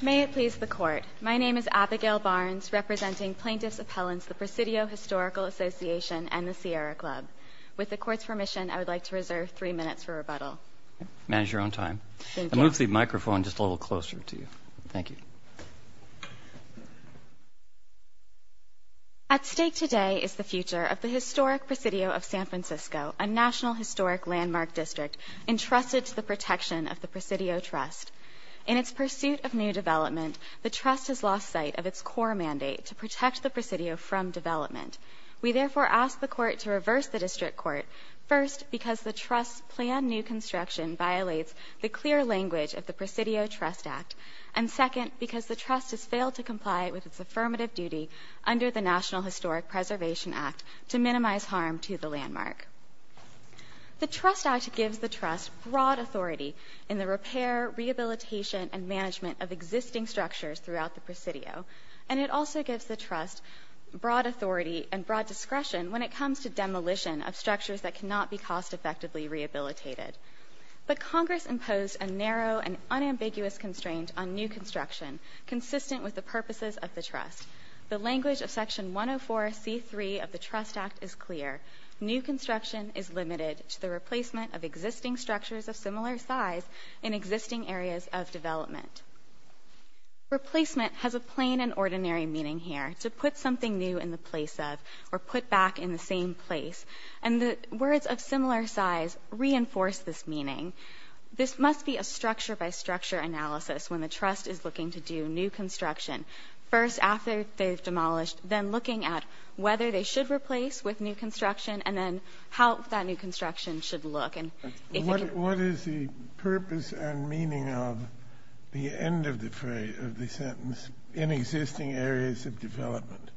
May it please the Court, my name is Abigail Barnes, representing Plaintiffs' Appellants, the Presidio Historical Association, and the Sierra Club. With the Court's permission, I would like to reserve three minutes for rebuttal. Manage your own time. I'll move the microphone just a little closer to you. Thank you. At stake today is the future of the historic Presidio of San Francisco, a National Historic Landmark District, entrusted to the protection of the Presidio Trust. In its pursuit of new development, the Trust has lost sight of its core mandate to protect the Presidio from development. We therefore ask the Court to reverse the District Court, first because the Trust's planned new construction violates the clear language of the Presidio Trust Act, and second because the Trust has failed to comply with its affirmative duty under the National Historic Preservation Act to minimize harm to the landmark. The Trust Act gives the Trust broad authority in the repair, rehabilitation, and management of existing structures throughout the Presidio, and it also gives the Trust broad authority and broad discretion when it comes to demolition of structures that cannot be cost-effectively rehabilitated. But Congress imposed a narrow and unambiguous constraint on new construction consistent with the purposes of the Trust. The language of Section 104C3 of the Trust Act is clear. New construction is limited to the replacement of existing structures of similar size in existing areas of development. Replacement has a plain and ordinary meaning here, to put something new in the place of or put back in the same place. And the words of similar size reinforce this meaning. This must be a structure-by-structure analysis when the Trust is looking to do new construction, first after they've demolished, then looking at whether they should replace with new construction, and then how that new construction should look. And if it can be— What is the purpose and meaning of the end of the phrase, of the sentence, in existing areas of development?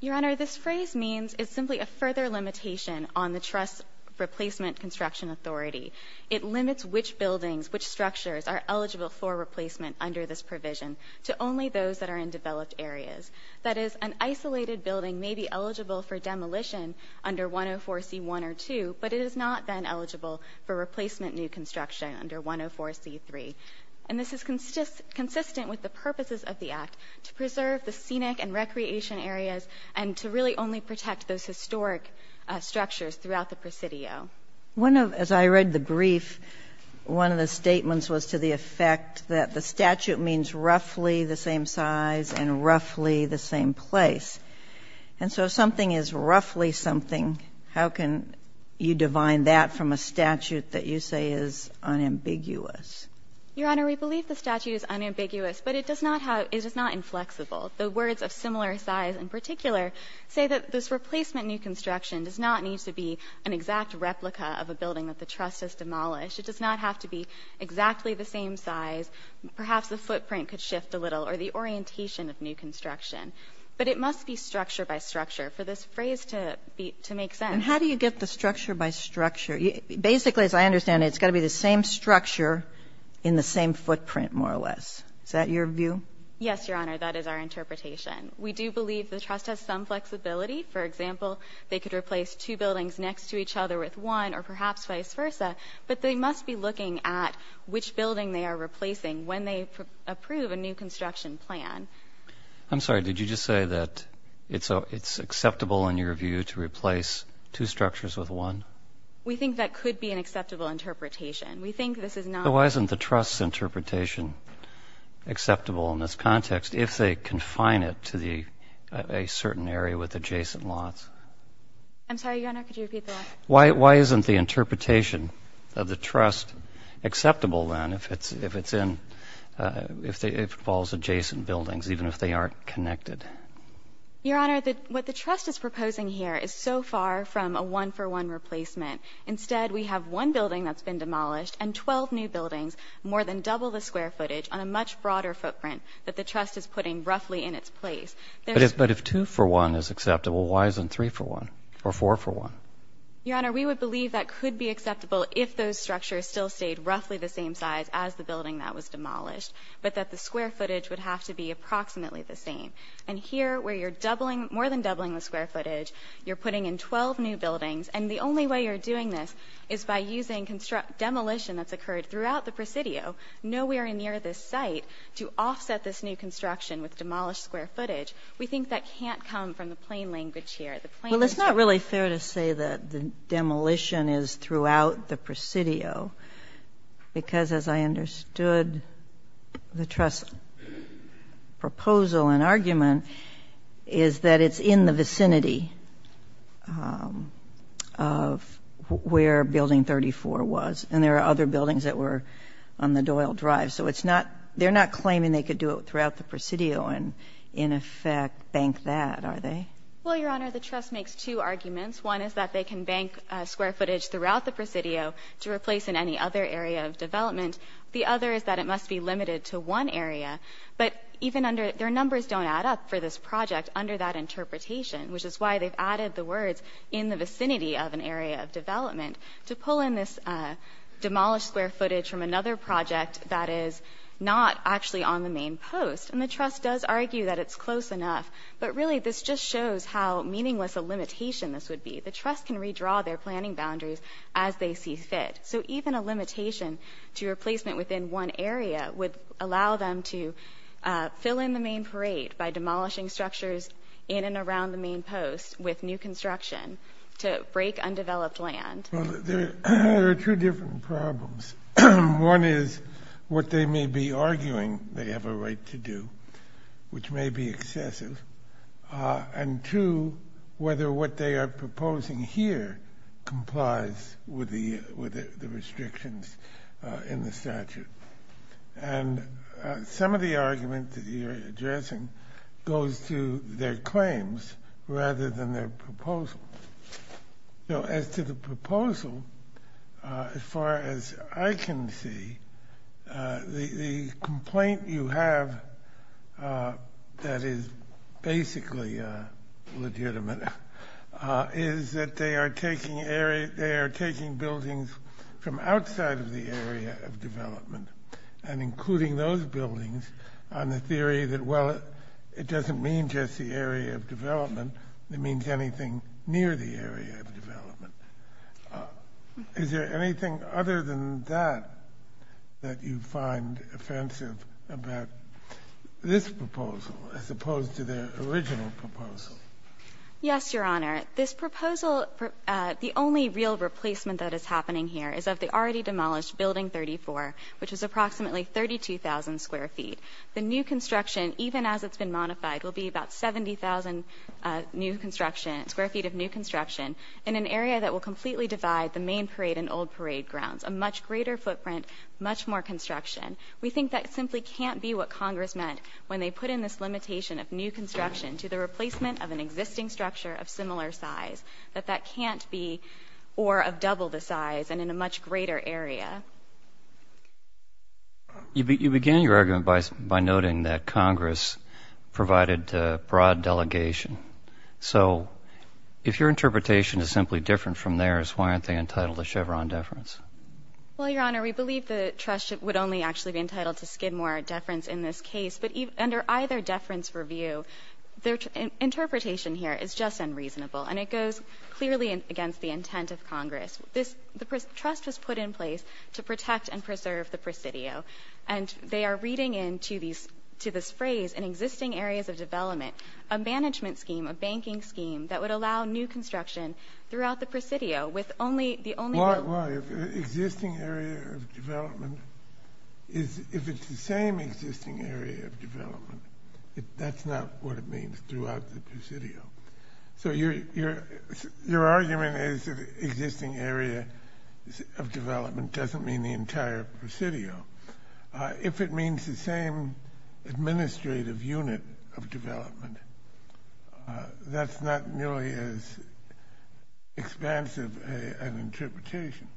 Your Honor, this phrase means—is simply a further limitation on the Trust's replacement construction authority. It limits which buildings, which structures, are eligible for replacement under this provision to only those that are in developed areas. That is, an isolated building may be eligible for demolition under 104C1 or 2, but it is not then eligible for replacement new construction under 104C3. And this is consistent with the purposes of the Act, to preserve the scenic and recreation areas and to really only protect those historic structures throughout the Presidio. One of—as I read the brief, one of the statements was to the effect that the statute means roughly the same size and roughly the same place. And so if something is roughly something, how can you divine that from a statute that you say is unambiguous? Your Honor, we believe the statute is unambiguous, but it does not have—it is not inflexible. The words of similar size in particular say that this replacement new construction does not need to be an exact replica of a building that the Trust has demolished. It does not have to be exactly the same size. Perhaps the footprint could shift a little or the orientation of new construction. But it must be structure by structure for this phrase to be—to make sense. And how do you get the structure by structure? Basically, as I understand it, it's got to be the same structure in the same footprint, more or less. Is that your view? Yes, Your Honor. That is our interpretation. We do believe the Trust has some flexibility. For example, they could replace two buildings next to each other with one or perhaps vice versa. But they must be looking at which building they are replacing when they approve a new construction plan. I'm sorry. Did you just say that it's acceptable in your view to replace two structures with one? We think that could be an acceptable interpretation. We think this is not— Why isn't the Trust's interpretation acceptable in this context if they confine it to a certain area with adjacent lots? I'm sorry, Your Honor. Could you repeat that? Why isn't the interpretation of the Trust acceptable then if it's in—if it involves adjacent buildings, even if they aren't connected? Your Honor, what the Trust is proposing here is so far from a one-for-one replacement. Instead, we have one building that's been demolished and 12 new buildings, more than double the square footage on a much broader footprint that the Trust is putting roughly in its place. But if two-for-one is acceptable, why isn't three-for-one or four-for-one? Your Honor, we would believe that could be acceptable if those structures still stayed roughly the same size as the building that was demolished, but that the square footage would have to be approximately the same. And here, where you're doubling—more than doubling the square footage, you're putting in 12 new buildings, and the only way you're doing this is by using demolition that's occurred throughout the Presidio, nowhere near this site, to offset this new construction with demolished square footage. We think that can't come from the plain language here. The plain language— Well, it's not really fair to say that the demolition is throughout the Presidio because, as I understood the Trust's proposal and argument, is that it's in the vicinity of where Building 34 was, and there are other buildings that were on the Doyle Drive. So it's not—they're not claiming they could do it throughout the Presidio and, in effect, bank that, are they? Well, Your Honor, the Trust makes two arguments. One is that they can bank square footage throughout the Presidio to replace in any other area of development. The other is that it must be limited to one area, but even under—their numbers don't add up for this project under that interpretation, which is why they've added the words, in the vicinity of an area of development, to pull in this demolished square footage from another project that is not actually on the main post. And the Trust does argue that it's close enough, but really this just shows how meaningless a limitation this would be. The Trust can redraw their planning boundaries as they see fit. So even a limitation to replacement within one area would allow them to fill in the main parade by demolishing structures in and around the main post with new construction to break undeveloped land. Well, there are two different problems. One is what they may be arguing they have a right to do, which may be excessive. And two, whether what they are proposing here complies with the restrictions in the statute. And some of the argument that you're addressing goes to their claims rather than their proposal. So as to the proposal, as far as I can see, the complaint you have that is basically legitimate is that they are taking buildings from outside of the area of development and including those buildings on the theory that, well, it doesn't mean just the area of development. It means anything near the area of development. Is there anything other than that that you find offensive about this proposal as opposed to their original proposal? Yes, Your Honor. This proposal, the only real replacement that is happening here is of the already demolished Building 34, which is approximately 32,000 square feet. The new construction, even as it's been modified, will be about 70,000 square feet of new construction in an area that will completely divide the main parade and old parade grounds, a much greater footprint, much more construction. We think that simply can't be what Congress meant when they put in this limitation of new construction to the replacement of an existing structure of similar size, that that can't be or of double the size and in a much greater area. You began your argument by noting that Congress provided broad delegation. So if your interpretation is simply different from theirs, why aren't they entitled to Chevron deference? Well, Your Honor, we believe the trust would only actually be entitled to Skidmore deference in this case. But under either deference review, their interpretation here is just unreasonable and it goes clearly against the intent of Congress. The trust was put in place to protect and preserve the Presidio. And they are reading into this phrase, in existing areas of development, a management scheme, a banking scheme that would allow new construction throughout the Presidio with only the only existing area of development is if it's the same existing area of development, that's not what it means throughout the Presidio. So your argument is existing area of development doesn't mean the entire Presidio. If it means the same administrative unit of development, that's not nearly as expansive an interpretation.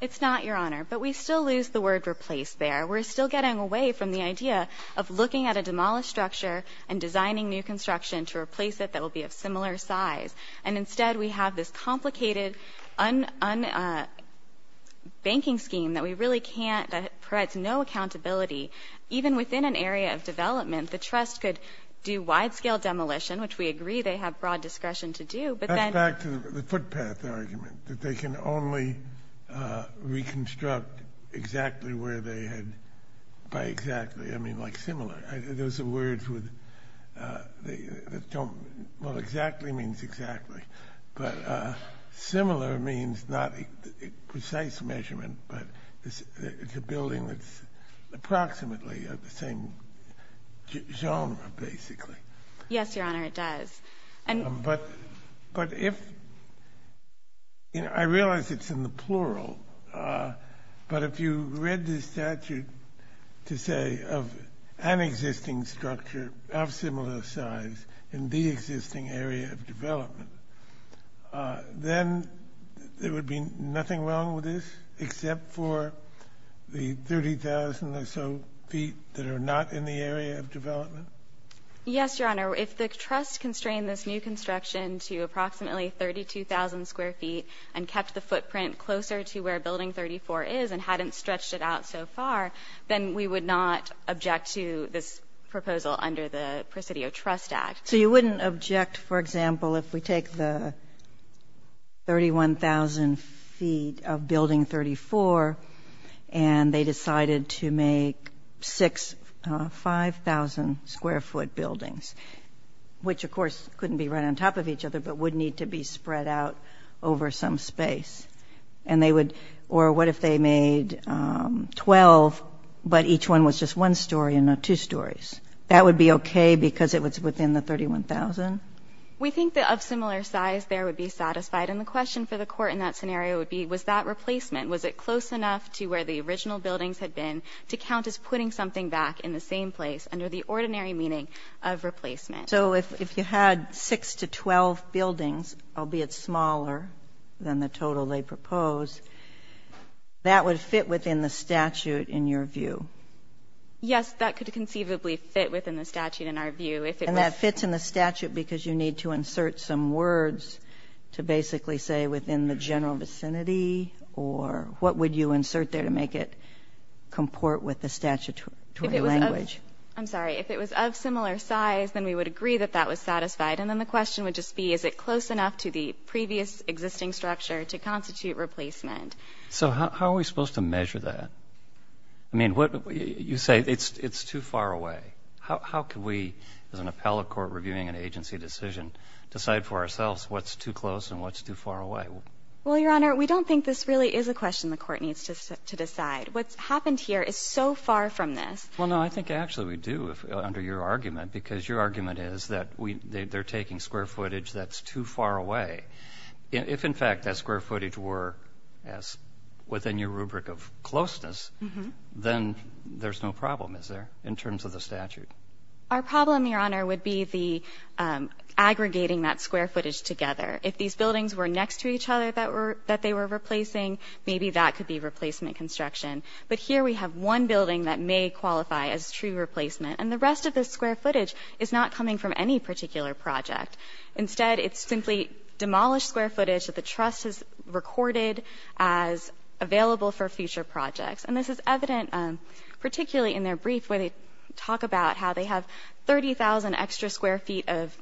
It's not, Your Honor. But we still lose the word replace there. We're still getting away from the idea of looking at a demolished structure and designing new construction to replace it that will be of similar size. And instead we have this complicated banking scheme that we really can't, that provides no accountability. Even within an area of development, the trust could do wide scale demolition, which we agree they have broad discretion to do, but then That's back to the footpath argument, that they can only reconstruct exactly where they had, by exactly, I mean, like similar. Those are words that don't, well, exactly means exactly, but similar means not precise measurement, but it's a building that's approximately the same genre, basically. Yes, Your Honor, it does. But if, I realize it's in the plural, but if you read the statute to say of an existing structure of similar size in the existing area of development, then there would be nothing wrong with this except for the 30,000 or so feet that are not in the area of development? Yes, Your Honor. If the trust constrained this new construction to approximately 32,000 square feet and kept the footprint closer to where Building 34 is and hadn't stretched it out so far, then we would not object to this proposal under the Presidio Trust Act. So you wouldn't object, for example, if we take the 31,000 feet of Building 34 and they decided to make six 5,000 square foot buildings, which of course couldn't be right on top of each other, but would need to be spread out over some space. And they would, or what if they made 12, but each one was just one story and not two stories? That would be okay because it was within the 31,000? We think that of similar size there would be satisfied. And the question for the Court in that scenario would be, was that replacement, was it close enough to where the original buildings had been to count as putting something back in the same place under the ordinary meaning of replacement? So if you had six to 12 buildings, albeit smaller than the total they proposed, that would fit within the statute in your view? Yes, that could conceivably fit within the statute in our view. And that fits in the statute because you need to insert some words to basically say within the general vicinity or what would you insert there to make it comport with the statutory language? I'm sorry, if it was of similar size, then we would agree that that was satisfied. And then the question would just be, is it close to constitute replacement? So how are we supposed to measure that? I mean, you say it's too far away. How can we, as an appellate court reviewing an agency decision, decide for ourselves what's too close and what's too far away? Well, Your Honor, we don't think this really is a question the Court needs to decide. What's happened here is so far from this. Well, no, I think actually we do under your argument because your argument is that they're taking square footage that's too far away. If in fact that square footage were as within your rubric of closeness, then there's no problem, is there, in terms of the statute? Our problem, Your Honor, would be the aggregating that square footage together. If these buildings were next to each other that they were replacing, maybe that could be replacement construction. But here we have one building that may qualify as true replacement and the rest of this square footage is not coming from any particular project. Instead, it's simply demolished square footage that the Trust has recorded as available for future projects. And this is evident, particularly in their brief, where they talk about how they have 30,000 extra square feet of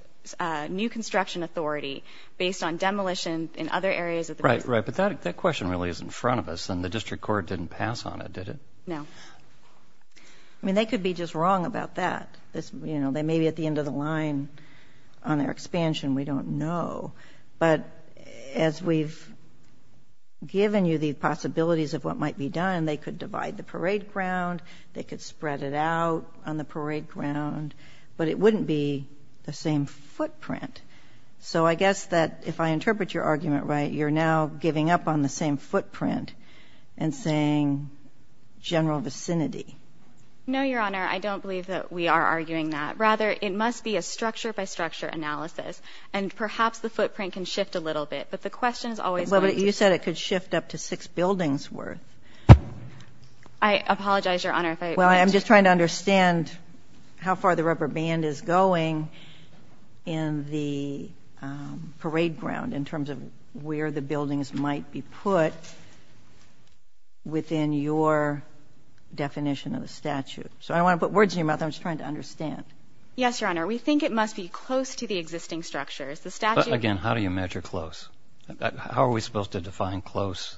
new construction authority based on demolition in other areas. Right, right. But that question really is in front of us and the District Court didn't pass on that, did it? No. I mean, they could be just wrong about that. You know, they may be at the end of the line on their expansion, we don't know. But as we've given you the possibilities of what might be done, they could divide the parade ground, they could spread it out on the parade ground, but it wouldn't be the same footprint. So I guess that if I interpret your argument right, you're now giving up on the same footprint and saying general vicinity. No, Your Honor, I don't believe that we are arguing that. Rather, it must be a structure by structure analysis. And perhaps the footprint can shift a little bit, but the question is always... But you said it could shift up to six buildings worth. I apologize, Your Honor, if I... Well, I'm just trying to understand how far the rubber band is going in the parade ground in terms of where the buildings might be put within your definition of the statute. So I don't want to put words in your mouth. I'm just trying to understand. Yes, Your Honor. We think it must be close to the existing structures. The statute... But again, how do you measure close? How are we supposed to define close,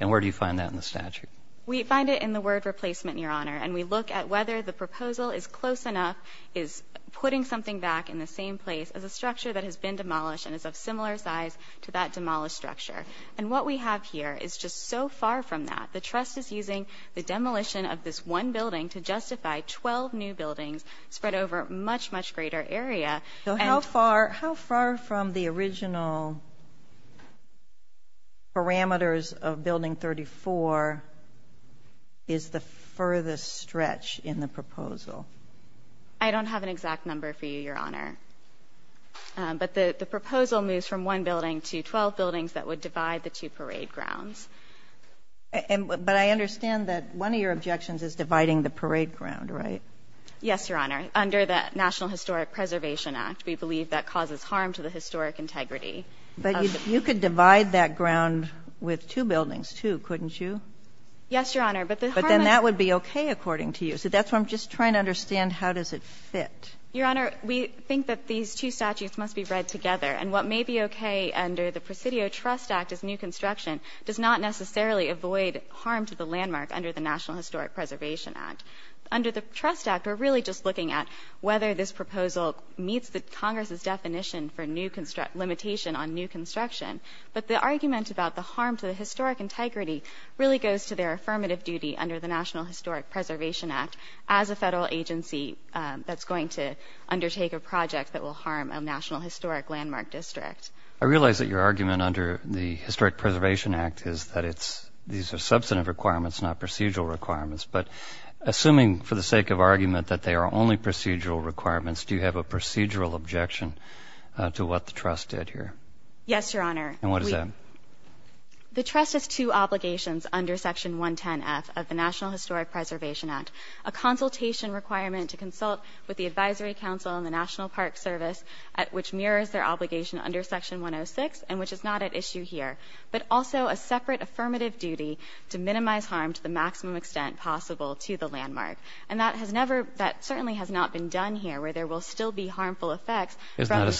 and where do you find that in the statute? We find it in the word replacement, Your Honor. And we look at whether the proposal is close enough, is putting something back in the same place as a structure that has been demolished and is of similar size to that demolished structure. And what we have here is just so far from that. The trust is using the demolition of this one building to justify 12 new buildings spread over a much, much greater area. So how far from the original parameters of Building 34 is the furthest stretch in the proposal? I don't have an exact number for you, Your Honor. But the proposal moves from one building to 12 buildings that would divide the two parade grounds. But I understand that one of your objections is dividing the parade ground, right? Yes, Your Honor. Under the National Historic Preservation Act, we believe that causes harm to the historic integrity. But you could divide that ground with two buildings, too, couldn't you? Yes, Your Honor, but the harm... I don't understand how does it fit. Your Honor, we think that these two statutes must be read together. And what may be okay under the Presidio Trust Act as new construction does not necessarily avoid harm to the landmark under the National Historic Preservation Act. Under the Trust Act, we're really just looking at whether this proposal meets the Congress's definition for new construction, limitation on new construction. But the argument about the harm to the historic integrity really goes to their affirmative duty under the National Historic Preservation Act as a federal agency that's going to undertake a project that will harm a National Historic Landmark District. I realize that your argument under the Historic Preservation Act is that it's... these are substantive requirements, not procedural requirements. But assuming for the sake of argument that they are only procedural requirements, do you have a procedural objection to what the trust did here? Yes, Your Honor. And what is that? The trust has two obligations under Section 110F of the National Historic Preservation Act. A consultation requirement to consult with the Advisory Council and the National Park Service, which mirrors their obligation under Section 106, and which is not at issue here. But also a separate affirmative duty to minimize harm to the maximum extent possible to the landmark. And that has never... that certainly has not been done here, where there will still be harmful effects from...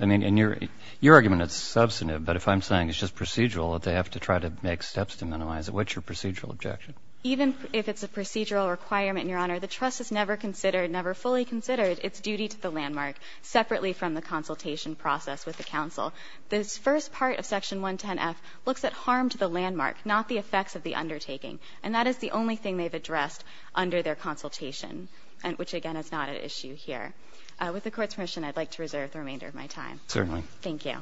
I mean, in your argument it's substantive, but if I'm saying it's just procedural, that they have to try to make steps to minimize it. What's your procedural objection? Even if it's a procedural requirement, Your Honor, the trust has never considered, never fully considered, its duty to the landmark, separately from the consultation process with the Council. This first part of Section 110F looks at harm to the landmark, not the effects of the undertaking. And that is the only thing they've addressed under their consultation, which again is not at issue here. With the Court's permission, I'd like to reserve the remainder of my time. Certainly. Thank you.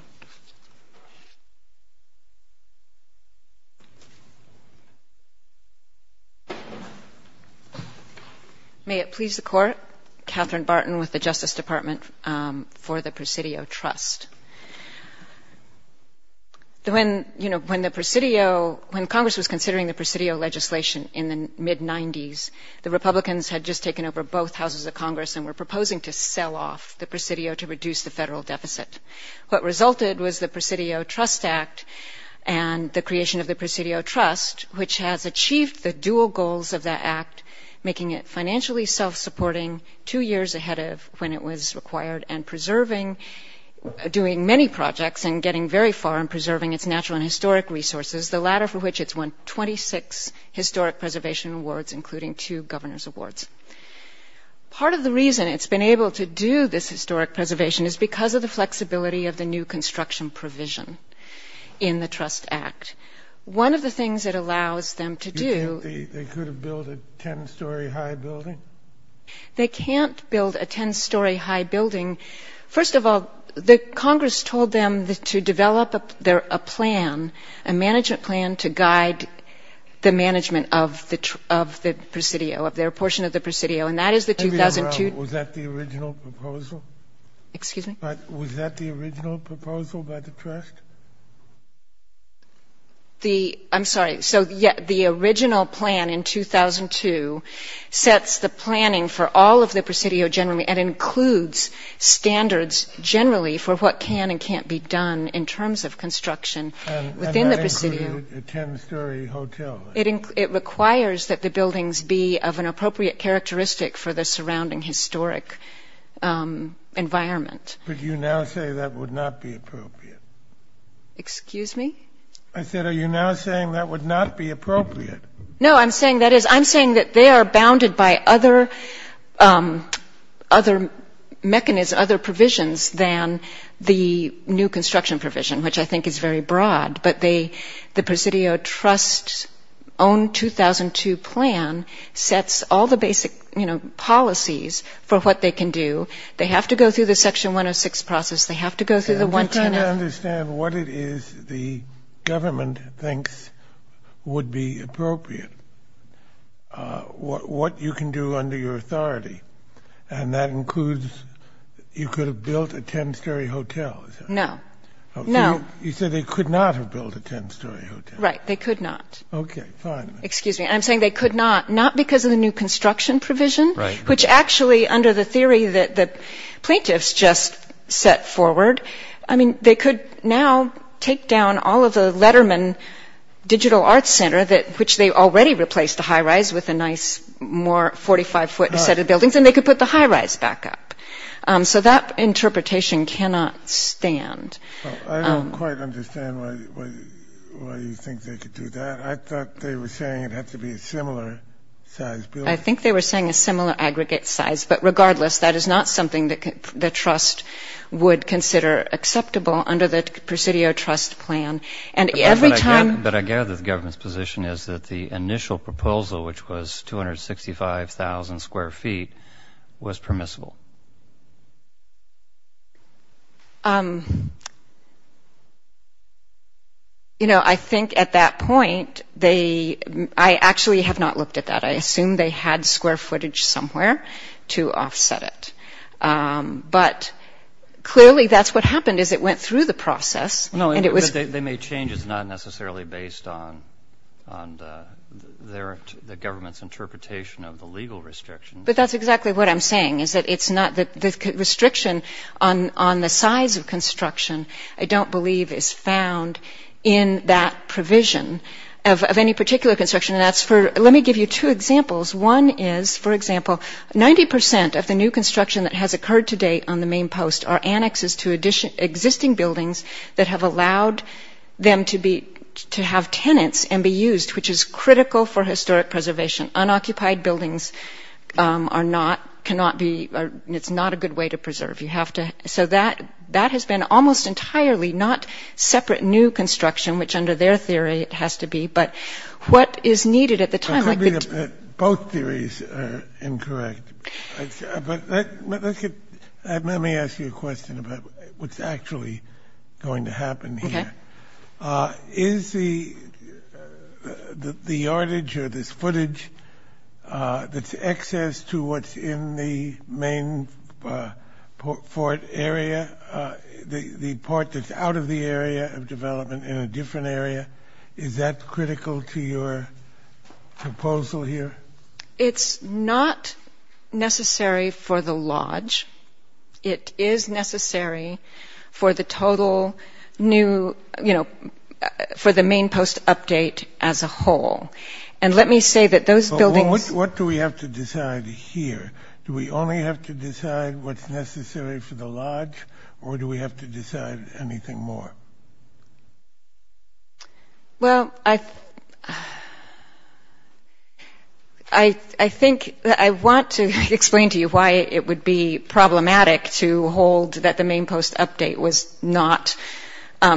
May it please the Court, Katherine Barton with the Justice Department for the Presidio Trust. When, you know, when the Presidio... when Congress was considering the Presidio legislation in the mid-90s, the Republicans had just taken over both houses of Congress and were proposing to sell off the Presidio to reduce the federal deficit. What resulted was the Presidio Trust Act and the creation of the Presidio Trust, which has achieved the dual goals of that act, making it financially self-supporting two years ahead of when it was required and preserving... doing many projects and getting very far in preserving its natural and historic resources, the latter for which it's won 26 Historic Preservation Awards, including two Governor's Awards. Part of the reason it's been able to do this historic preservation is because of the flexibility of the new construction provision in the Trust Act. One of the things it allows them to do... You think they could have built a ten-story high building? They can't build a ten-story high building. First of all, the Congress told them to develop a plan, a management plan, to guide the management of the Presidio, of their portion of the Presidio, and that is the 2002... Let me interrupt. Was that the original proposal by the Trust? I'm sorry. So, yes, the original plan in 2002 sets the planning for all of the Presidio generally and includes standards generally for what can and can't be done in terms of construction within the Presidio. And that included a ten-story hotel? It requires that the buildings be of an appropriate characteristic for the surrounding historic environment. But you now say that would not be appropriate. Excuse me? I said, are you now saying that would not be appropriate? No, I'm saying that they are bounded by other mechanisms, other provisions than the new construction provision, which I think is very broad. But the Presidio Trust's own 2002 plan sets all the basic policies for what they can do. They have to go through the Section 106 process. They have to go through the 110... I don't understand what it is the government thinks would be appropriate, what you can do under your authority. And that includes you could have built a ten-story hotel, is that right? No. No. You said they could not have built a ten-story hotel? Right. They could not. Okay. Fine. Excuse me. I'm saying they could not, not because of the new construction provision, which actually under the theory that the plaintiffs just set forward, I mean, they could now take down all of the Letterman Digital Arts Center, which they already replaced the high-rise with a nice more 45-foot set of buildings, and they could put the high-rise back up. So that interpretation cannot stand. I don't quite understand why you think they could do that. I thought they were saying it had to be a similar-sized building. I think they were saying a similar aggregate size. But regardless, that is not something that the trust would consider acceptable under the Presidio Trust Plan. And every time- But I gather the government's position is that the initial proposal, which was 265,000 square feet, was permissible. You know, I think at that point, I actually have not looked at that. I assume they had square footage somewhere to offset it. But clearly, that's what happened, is it went through the process, and it was- They made changes not necessarily based on the government's interpretation of the legal restrictions. But that's exactly what I'm saying, is that it's not- The restriction on the size of construction, I don't believe, is found in that provision of any particular construction. And that's for- Let me give you two examples. One is, for example, 90 percent of the new construction that has occurred to date on the main post are annexes to existing buildings that have allowed them to have tenants and be used, which is critical for historic preservation. Unoccupied buildings are not- cannot be- It's not a good way to preserve. You have to- So that has been almost entirely not separate new construction, which under their theory it has to be, but what is needed at the time- Both theories are incorrect. But let me ask you a question about what's actually going to happen here. Is the yardage or this footage that's excess to what's in the main port area, the port that's out of the area of development in a different area, is that critical to your proposal here? It's not necessary for the lodge. It is necessary for the total development of the new- for the main post update as a whole. And let me say that those buildings- What do we have to decide here? Do we only have to decide what's necessary for the lodge, or do we have to decide anything more? I think- I want to explain to you why it would be problematic to hold that the main post update was not-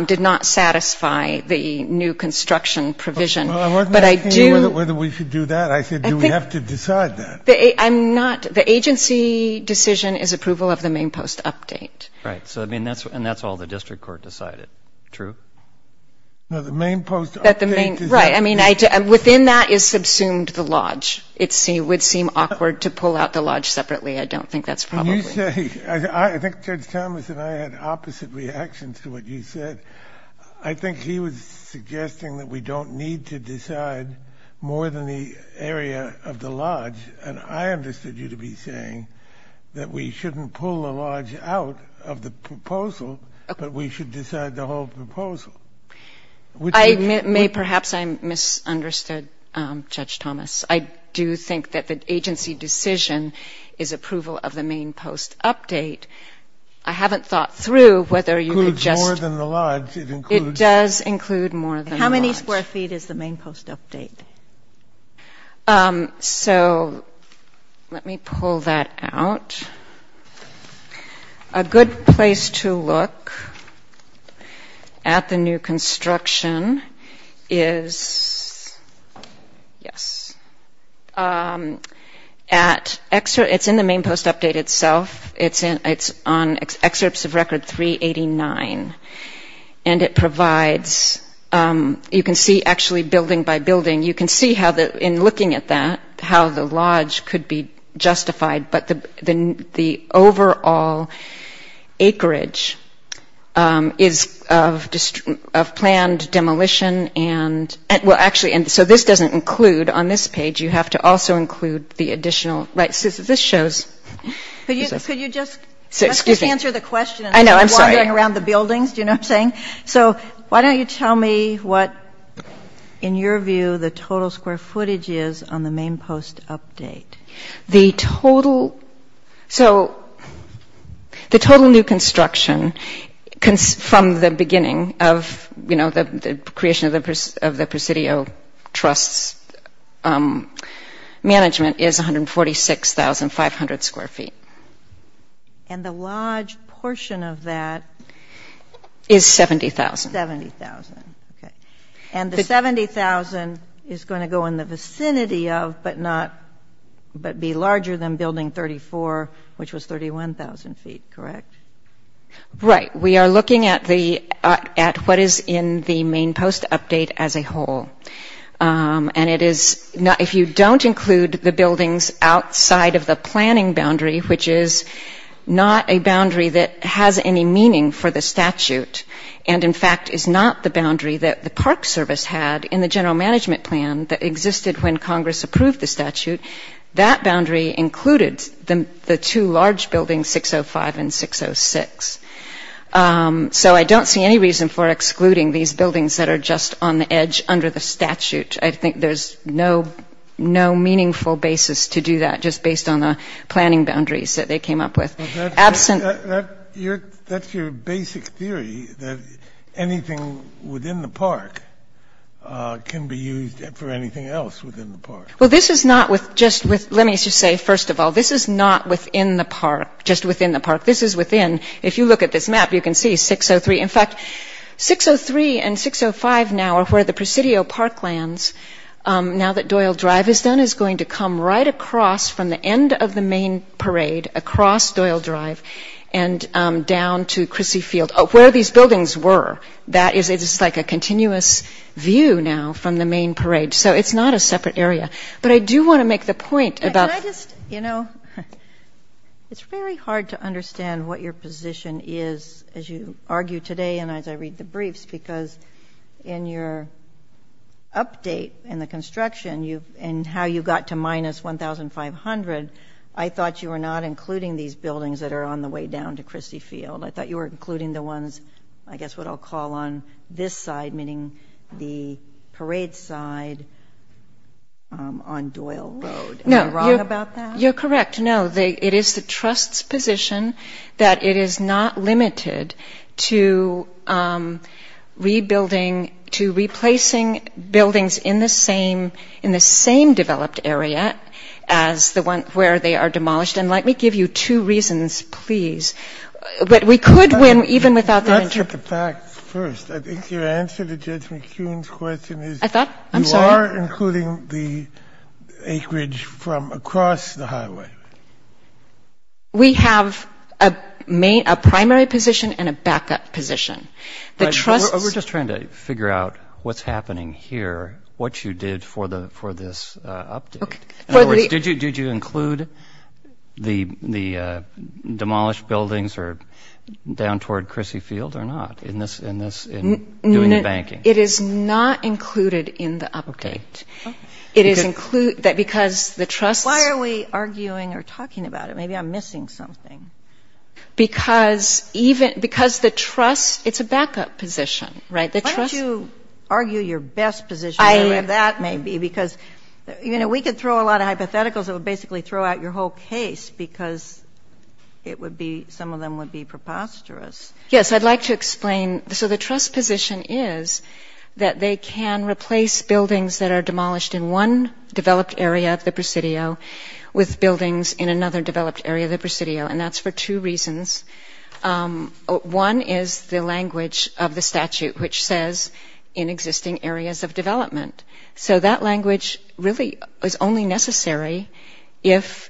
did not satisfy the new construction provision. Well, I wasn't asking you whether we should do that. I said, do we have to decide that? I'm not- the agency decision is approval of the main post update. Right. So, I mean, that's- and that's all the district court decided. True? No, the main post update- Right. I mean, within that is subsumed the lodge. It would seem awkward to pull out the lodge separately. I don't think that's probably- I think Judge Thomas and I had opposite reactions to what you said. I think he was suggesting that we don't need to decide more than the area of the lodge. And I understood you to be saying that we shouldn't pull the lodge out of the proposal, but we should decide the whole proposal. I may- perhaps I misunderstood Judge Thomas. I do think that the agency decision is approval of the main post update. I haven't thought through whether you could just- Includes more than the lodge. It includes- It does include more than the lodge. How many square feet is the main post update? So, let me pull that out. A good place to look at the new construction is- yes. At- it's in the main post update itself. It's on excerpts of record 389. And it provides- you can see, actually, building by building. You can see how the- in looking at that, how the lodge could be justified. But the overall acreage is of planned demolition and- well, actually- and so this doesn't include, on this page, you have to also include the additional- right, so this shows- Could you just- Excuse me. Let's just answer the question- I know. I'm sorry. around the buildings. Do you know what I'm saying? So, why don't you tell me what, in your view, the total square footage is on the main post update? The total- so, the total new construction from the beginning of, you know, the creation of the Presidio Trust's management is 146,500 square feet. And the lodge portion of that- Is 70,000. 70,000. Okay. And the 70,000 is going to go in the vicinity of, but not- but be larger than building 34, which was 31,000 feet, correct? Right. We are looking at the- at what is in the main post update as a whole. And it is- which is not a boundary that has any meaning for the statute. And, in fact, is not the boundary that the Park Service had in the general management plan that existed when Congress approved the statute. That boundary included the two large buildings, 605 and 606. So, I don't see any reason for excluding these buildings that are just on the edge under the statute. I think there's no meaningful basis to do that, just based on the planning boundaries that they came up with. But that's- Absent- That's your basic theory, that anything within the park can be used for anything else within the park. Well, this is not with- just with- let me just say, first of all, this is not within the park, just within the park. This is within- if you look at this map, you can see 603. In fact, 603 and 605 now are where the Presidio Park lands. Now that Doyle Drive is done, this one is going to come right across from the end of the main parade, across Doyle Drive, and down to Crissy Field, where these buildings were. That is- it's like a continuous view now from the main parade. So, it's not a separate area. But I do want to make the point about- Can I just- you know, it's very hard to understand what your position is, as you argue today and as I read the briefs, because in your update in the construction and how you got to minus 1,500, I thought you were not including these buildings that are on the way down to Crissy Field. I thought you were including the ones, I guess what I'll call on this side, meaning the parade side on Doyle Road. Am I wrong about that? You're correct. No, it is the trust's position that it is not limited to rebuilding- to replacing buildings in the same developed area as the one where they are demolished. And let me give you two reasons, please. But we could win even without the- Let's look at the facts first. I think your answer to Judge McCune's question is- I thought- I'm sorry? You're not including the acreage from across the highway. We have a primary position and a backup position. The trust's- We're just trying to figure out what's happening here, what you did for this update. In other words, did you include the demolished buildings down toward Crissy Field or not, in this- in doing the banking? It is not included in the update. It is include- because the trust's- Why are we arguing or talking about it? Maybe I'm missing something. Because even- because the trust- it's a backup position, right? The trust- Why don't you argue your best position, whatever that may be, because, you know, we could throw a lot of hypotheticals that would basically throw out your whole case, because it would be- some of them would be preposterous. Yes, I'd like to explain- so the trust's position is that they can replace buildings that are demolished in one developed area of the Presidio with buildings in another developed area of the Presidio, and that's for two reasons. One is the language of the statute, which says, in existing areas of development. So that language really is only necessary if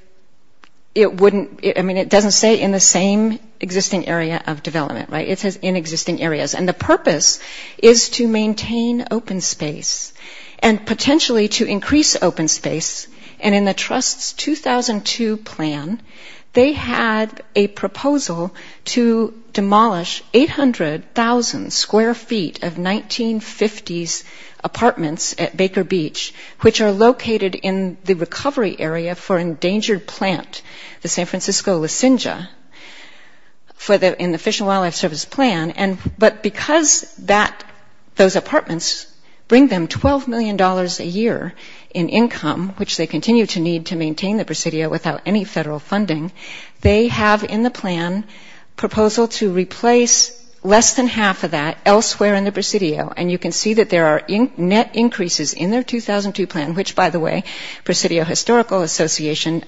it wouldn't- I mean, it doesn't say in the same existing area of development, right? It says in existing areas, and the purpose is to maintain open space and potentially to increase open space. And in the trust's 2002 plan, they had a proposal to demolish 800,000 square feet of 1950s apartments at Baker Beach, which are located in the recovery area for an endangered plant, the San Francisco lozenge, in the Fish and Wildlife Service plan. But because those apartments bring them $12 million a year in income, which they continue to need to maintain the Presidio without any federal funding, they have in the plan a proposal to replace less than half of that elsewhere in the Presidio. And you can see that there are net increases in their 2002 plan, which, by the way, the Presidio Historical Association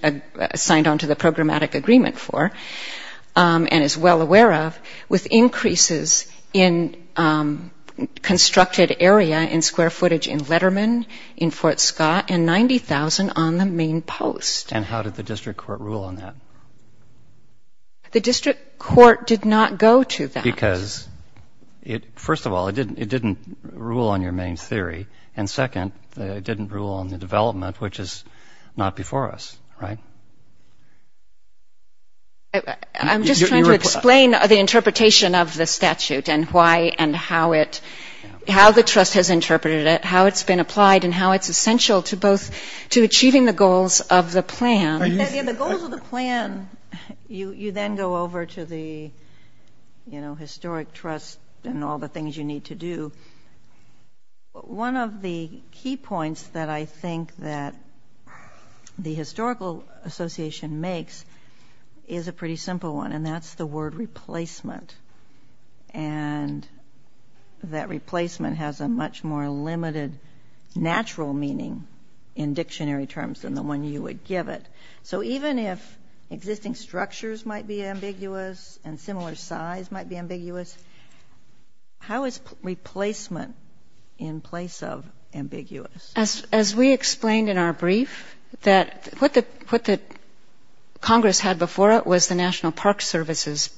signed onto the programmatic agreement for and is well aware of, with increases in constructed area in square footage in Letterman, in Fort Scott, and 90,000 on the main post. And how did the district court rule on that? The district court did not go to that. Because, first of all, it didn't rule on your main theory. And, second, it didn't rule on the development, which is not before us, right? I'm just trying to explain the interpretation of the statute and why and how the trust has interpreted it, how it's been applied, and how it's essential to both to achieving the goals of the plan. Yeah, the goals of the plan, you then go over to the, you know, historic trust and all the things you need to do. One of the key points that I think that the historical association makes is a pretty simple one, and that's the word replacement. And that replacement has a much more limited natural meaning in dictionary terms than the one you would give it. So even if existing structures might be ambiguous and similar size might be ambiguous, how is replacement in place of ambiguous? As we explained in our brief, what Congress had before it was the National Park Service's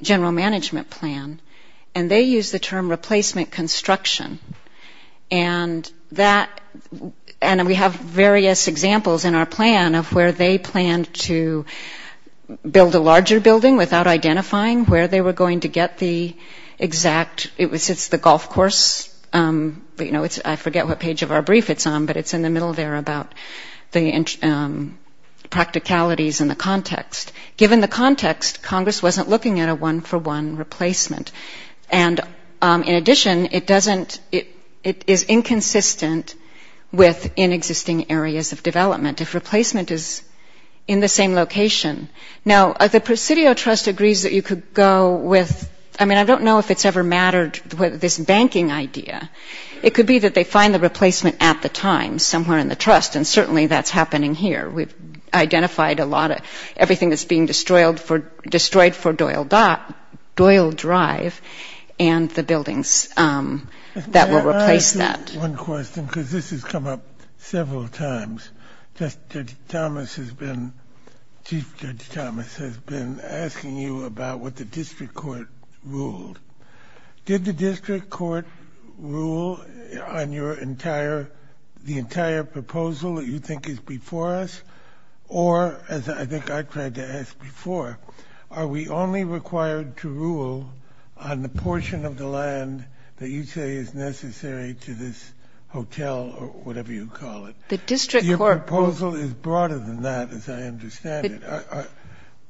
general management plan, and they used the term replacement construction. And we have various examples in our plan of where they planned to build a larger building without identifying where they were going to get the exact, it's the golf course, you know, I forget what page of our brief it's on, but it's in the middle there about the practicalities and the context. Given the context, Congress wasn't looking at a one-for-one replacement. And in addition, it doesn't, it is inconsistent with in existing areas of development. If replacement is in the same location. Now, the Presidio Trust agrees that you could go with, I mean, I don't know if it's ever mattered with this banking idea. It could be that they find the replacement at the time somewhere in the trust, and certainly that's happening here. We've identified a lot of everything that's being destroyed for Doyle Drive and the buildings that will replace that. One question, because this has come up several times. Judge Thomas has been, Chief Judge Thomas has been asking you about what the district court ruled. Did the district court rule on your entire, the entire proposal that you think is before us? Or, as I think I tried to ask before, are we only required to rule on the portion of the land that you say is necessary to this hotel or whatever you call it? Your proposal is broader than that, as I understand it.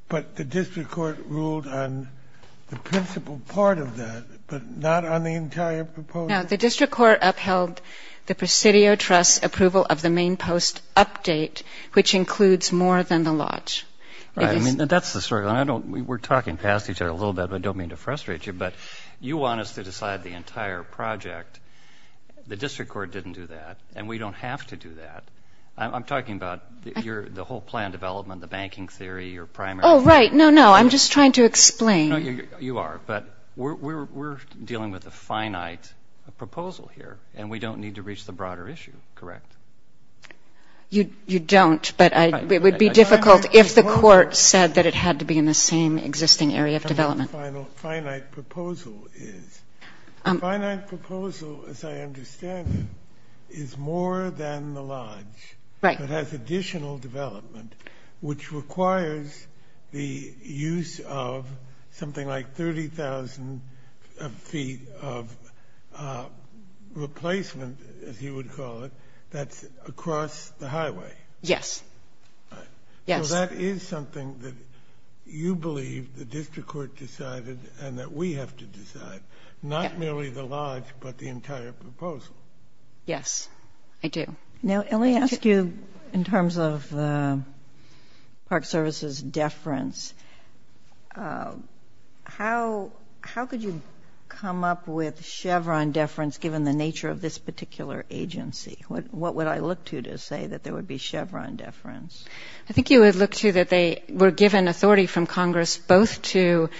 But the district court ruled on the principal part of that, but not on the entire proposal? Now, the district court upheld the Presidio Trust's approval of the main post update, which includes more than the lodge. That's the story. We're talking past each other a little bit, but I don't mean to frustrate you. But you want us to decide the entire project. The district court didn't do that, and we don't have to do that. I'm talking about the whole plan development, the banking theory, your primary plan. Oh, right. No, no. I'm just trying to explain. You are, but we're dealing with a finite proposal here, and we don't need to reach the broader issue, correct? You don't, but it would be difficult if the court said that it had to be in the same existing area of development. The finite proposal, as I understand it, is more than the lodge. It has additional development, which requires the use of something like 30,000 feet of replacement, as you would call it, that's across the highway. Yes. So that is something that you believe the district court decided and that we have to decide, not merely the lodge but the entire proposal. Yes, I do. Now, let me ask you, in terms of Park Service's deference, how could you come up with Chevron deference given the nature of this particular agency? What would I look to to say that there would be Chevron deference? I think you would look to that they were given authority from Congress both to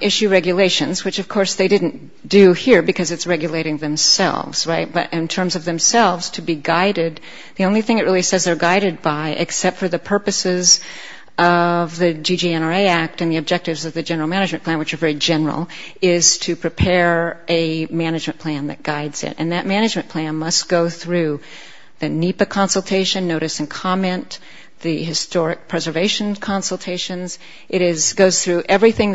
issue regulations, which, of course, they didn't do here because it's regulating themselves, right, but in terms of themselves to be guided, the only thing it really says they're guided by, except for the purposes of the GGNRA Act and the objectives of the general management plan, which are very general, is to prepare a management plan that guides it. And that management plan must go through the NEPA consultation, notice and comment, the historic preservation consultations. It goes through everything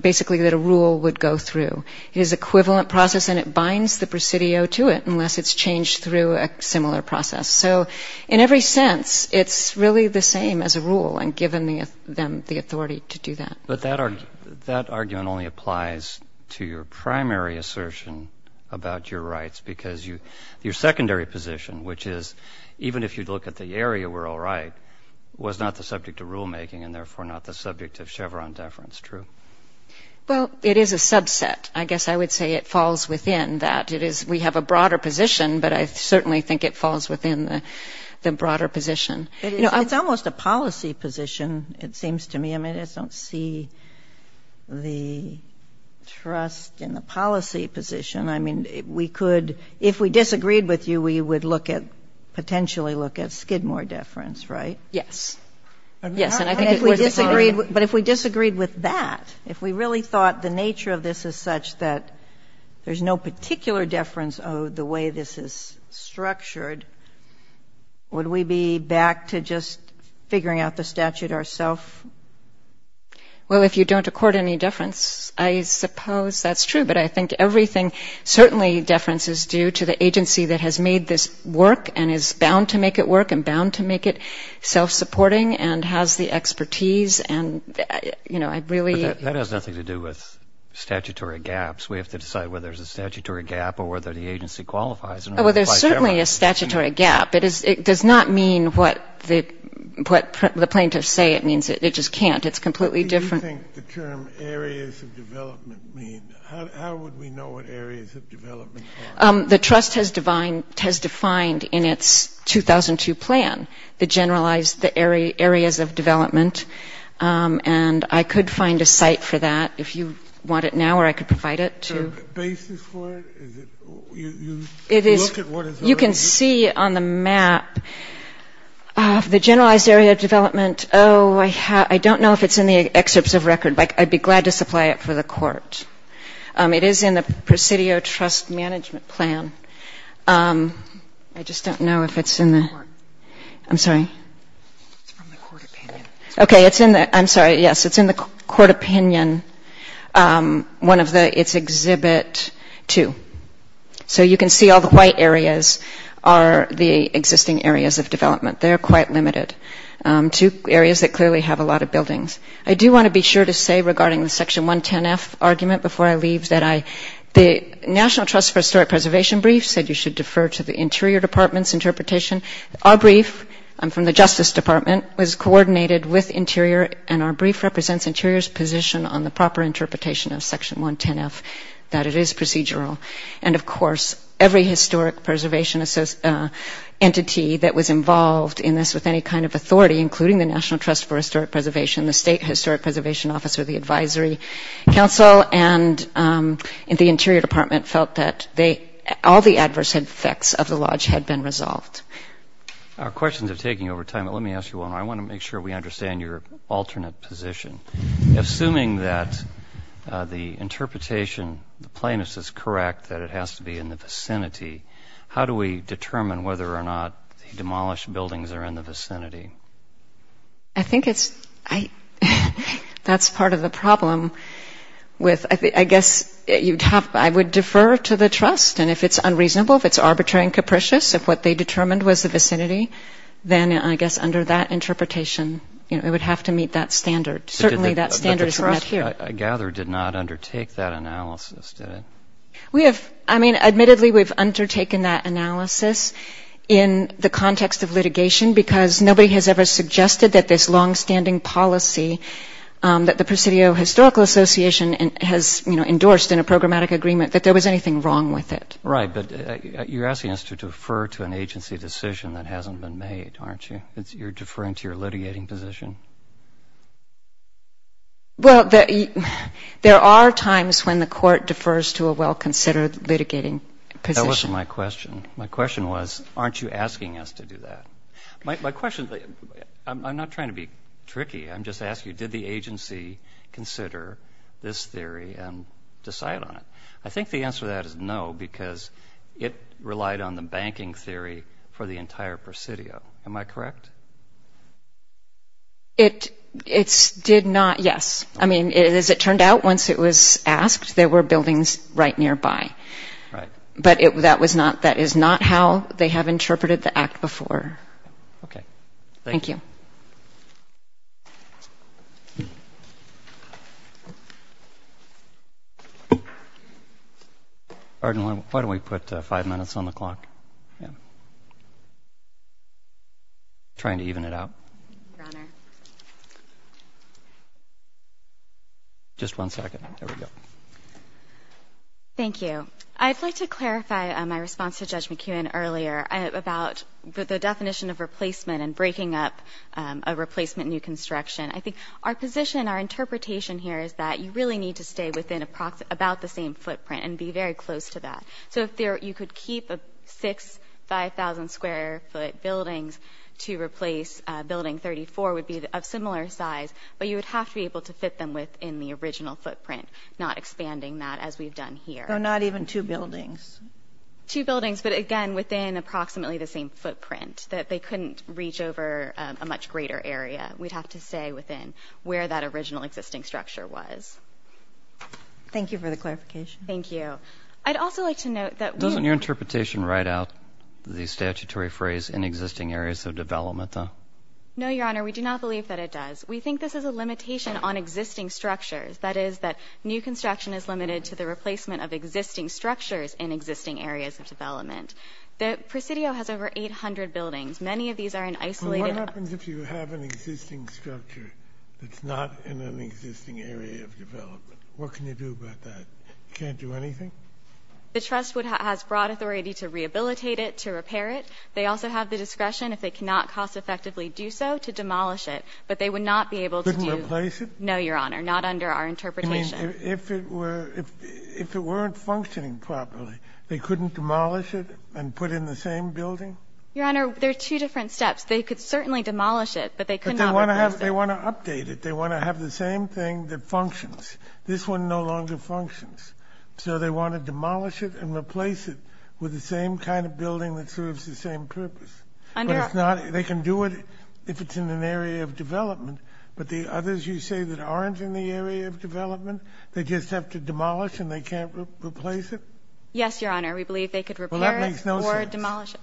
basically that a rule would go through. It is equivalent process and it binds the presidio to it unless it's changed through a similar process. So in every sense, it's really the same as a rule and given them the authority to do that. But that argument only applies to your primary assertion about your rights because your secondary position, which is even if you look at the area, we're all right, was not the subject of rulemaking and therefore not the subject of Chevron deference, true? Well, it is a subset. I guess I would say it falls within that. We have a broader position, but I certainly think it falls within the broader position. It's almost a policy position, it seems to me. I mean, I don't see the trust in the policy position. I mean, if we disagreed with you, we would potentially look at Skidmore deference, right? Yes. But if we disagreed with that, if we really thought the nature of this is such that there's no particular deference of the way this is structured, would we be back to just figuring out the statute ourself? Well, if you don't accord any deference, I suppose that's true, but I think everything certainly deference is due to the agency that has made this work and is bound to make it work and bound to make it self-supporting and has the expertise. That has nothing to do with statutory gaps. We have to decide whether there's a statutory gap or whether the agency qualifies. Well, there's certainly a statutory gap. It does not mean what the plaintiffs say it means. It just can't. It's completely different. What do you think the term areas of development mean? How would we know what areas of development are? The trust has defined in its 2002 plan the generalized areas of development, and I could find a site for that if you want it now or I could provide it to you. A basis for it? You look at what is already there? You can see on the map of the generalized area of development. Oh, I don't know if it's in the excerpts of record, but I'd be glad to supply it for the court. It is in the Presidio Trust Management Plan. I just don't know if it's in the... I'm sorry. It's from the court opinion. Okay, it's in the... I'm sorry. Yes, it's in the court opinion. One of the... It's Exhibit 2. So you can see all the white areas are the existing areas of development. They're quite limited to areas that clearly have a lot of buildings. I do want to be sure to say regarding the Section 110F argument before I leave that the National Trust for Historic Preservation brief said you should defer to the Interior Department's interpretation. Our brief, from the Justice Department, was coordinated with Interior, and our brief represents Interior's position on the proper interpretation of Section 110F, that it is procedural. And, of course, every historic preservation entity that was involved in this with any kind of authority, including the National Trust for Historic Preservation, the State Historic Preservation Office, or the Advisory Council, and the Interior Department felt that all the adverse effects of the lodge had been resolved. Our questions are taking over time, but let me ask you one. I want to make sure we understand your alternate position. Assuming that the interpretation, the plainness, is correct, that it has to be in the vicinity, how do we determine whether or not the demolished buildings are in the vicinity? I think that's part of the problem. I guess I would defer to the Trust, and if it's unreasonable, if it's arbitrary and capricious, if what they determined was the vicinity, then I guess under that interpretation it would have to meet that standard. Certainly that standard is not here. But the Trust, I gather, did not undertake that analysis, did it? Admittedly, we've undertaken that analysis in the context of litigation because nobody has ever suggested that this longstanding policy that the Presidio Historical Association has endorsed in a programmatic agreement, that there was anything wrong with it. Right, but you're asking us to defer to an agency decision that hasn't been made, aren't you? You're deferring to your litigating position? Well, there are times when the court defers to a well-considered litigating position. That wasn't my question. My question was, aren't you asking us to do that? My question – I'm not trying to be tricky. I'm just asking you, did the agency consider this theory and decide on it? I think the answer to that is no because it relied on the banking theory for the entire Presidio. Am I correct? It did not – yes. I mean, as it turned out, once it was asked, there were buildings right nearby. Right. But that was not – that is not how they have interpreted the act before. Okay. Thank you. Thank you. Why don't we put five minutes on the clock? I'm trying to even it out. Your Honor. Just one second. There we go. Thank you. I'd like to clarify my response to Judge McKeown earlier about the definition of replacement and breaking up a replacement new construction. I think our position, our interpretation here is that you really need to stay within about the same footprint and be very close to that. So if you could keep six 5,000-square-foot buildings to replace Building 34 would be of similar size, but you would have to be able to fit them within the original footprint, not expanding that as we've done here. So not even two buildings? Two buildings, but again, within approximately the same footprint, that they couldn't reach over a much greater area. We'd have to stay within where that original existing structure was. Thank you for the clarification. Thank you. I'd also like to note that we – Doesn't your interpretation write out the statutory phrase, in existing areas of development, though? No, Your Honor. We do not believe that it does. We think this is a limitation on existing structures. That is, that new construction is limited to the replacement of existing structures in existing areas of development. The Presidio has over 800 buildings. Many of these are in isolated – What happens if you have an existing structure that's not in an existing area of development? What can you do about that? You can't do anything? The trust has broad authority to rehabilitate it, to repair it. They also have the discretion, if they cannot cost-effectively do so, to demolish it. But they would not be able to do – Couldn't replace it? No, Your Honor. Not under our interpretation. You mean if it weren't functioning properly, they couldn't demolish it and put in the same building? Your Honor, there are two different steps. They could certainly demolish it, but they could not replace it. But they want to update it. They want to have the same thing that functions. This one no longer functions. So they want to demolish it and replace it with the same kind of building that serves the same purpose. But it's not – they can do it if it's in an area of development. But the others you say that aren't in the area of development, they just have to demolish and they can't replace it? Yes, Your Honor. We believe they could repair it or demolish it. Well, that makes no sense.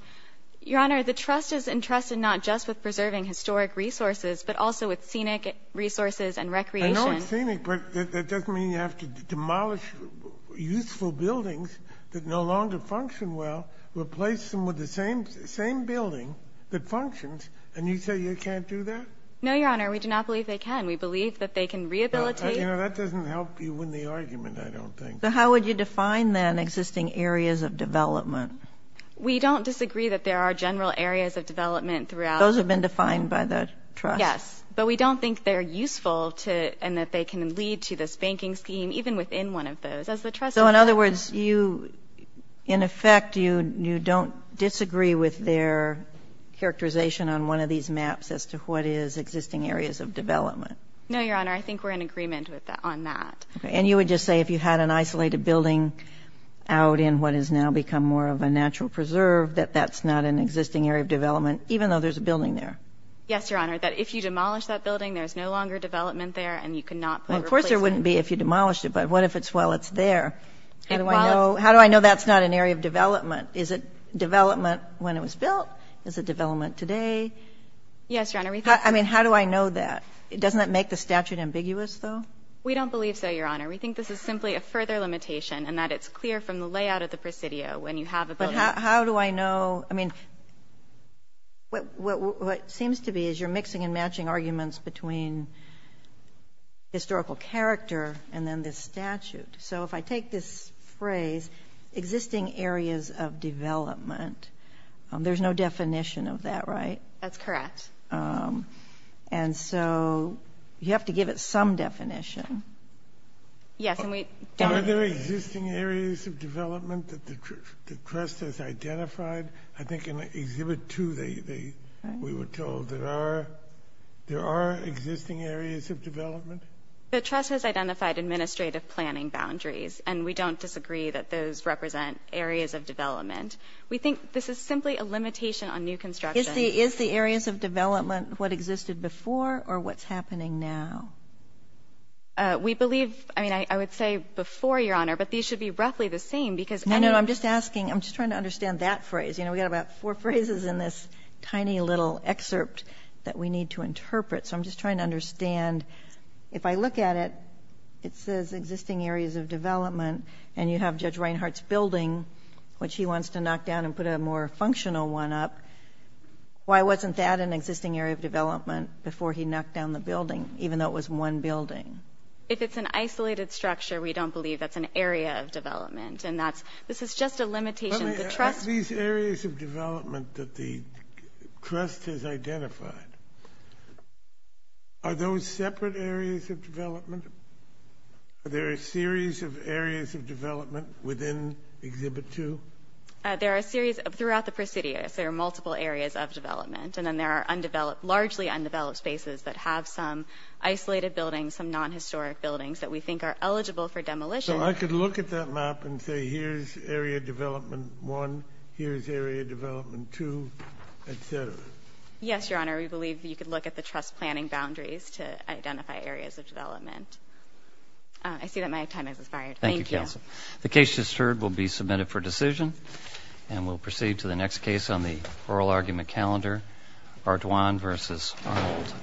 Your Honor, the trust is entrusted not just with preserving historic resources, but also with scenic resources and recreation. I know it's scenic, but that doesn't mean you have to demolish useful buildings that no longer function well, replace them with the same building that functions, and you say you can't do that? No, Your Honor. We do not believe they can. We believe that they can rehabilitate. That doesn't help you win the argument, I don't think. How would you define, then, existing areas of development? We don't disagree that there are general areas of development throughout. Those have been defined by the trust? Yes. But we don't think they're useful and that they can lead to this banking scheme, even within one of those. So, in other words, you, in effect, you don't disagree with their characterization on one of these maps as to what is existing areas of development? No, Your Honor. I think we're in agreement on that. And you would just say if you had an isolated building out in what has now become more of a natural preserve, that that's not an existing area of development, even though there's a building there? Yes, Your Honor. That if you demolish that building, there's no longer development there and you cannot replace it. Of course there wouldn't be if you demolished it, but what if it's while it's there? How do I know that's not an area of development? Is it development when it was built? Is it development today? Yes, Your Honor. I mean, how do I know that? Doesn't that make the statute ambiguous, though? We don't believe so, Your Honor. We think this is simply a further limitation and that it's clear from the layout of the presidio when you have a building. But how do I know? I mean, what seems to be is you're mixing and matching arguments between historical character and then this statute. So if I take this phrase, existing areas of development, there's no definition of that, right? That's correct. And so you have to give it some definition. Yes, and we don't. Are there existing areas of development that the trust has identified? I think in Exhibit 2 we were told there are existing areas of development. The trust has identified administrative planning boundaries, and we don't disagree that those represent areas of development. We think this is simply a limitation on new construction. Is the areas of development what existed before or what's happening now? We believe ‑‑ I mean, I would say before, Your Honor, but these should be roughly the same because any ‑‑ No, no. I'm just asking. I'm just trying to understand that phrase. You know, we've got about four phrases in this tiny little excerpt that we need to interpret. So I'm just trying to understand. If I look at it, it says existing areas of development, and you have Judge Reinhart's building, which he wants to knock down and put a more functional one up. Why wasn't that an existing area of development before he knocked down the building, even though it was one building? If it's an isolated structure, we don't believe that's an area of development, and that's ‑‑ this is just a limitation of the trust. These areas of development that the trust has identified, are those separate areas of development? Are there a series of areas of development within Exhibit 2? There are a series of ‑‑ throughout the Presidio, there are multiple areas of development, and then there are largely undeveloped spaces that have some isolated buildings, some non‑historic buildings that we think are eligible for demolition. So I could look at that map and say, here's area development 1, here's area development 2, et cetera. Yes, Your Honor. We believe you could look at the trust planning boundaries to identify areas of development. I see that my time has expired. Thank you. Thank you, Counsel. The case just heard will be submitted for decision, and we'll proceed to the next case on the oral argument calendar, Ardoin v. Arnold.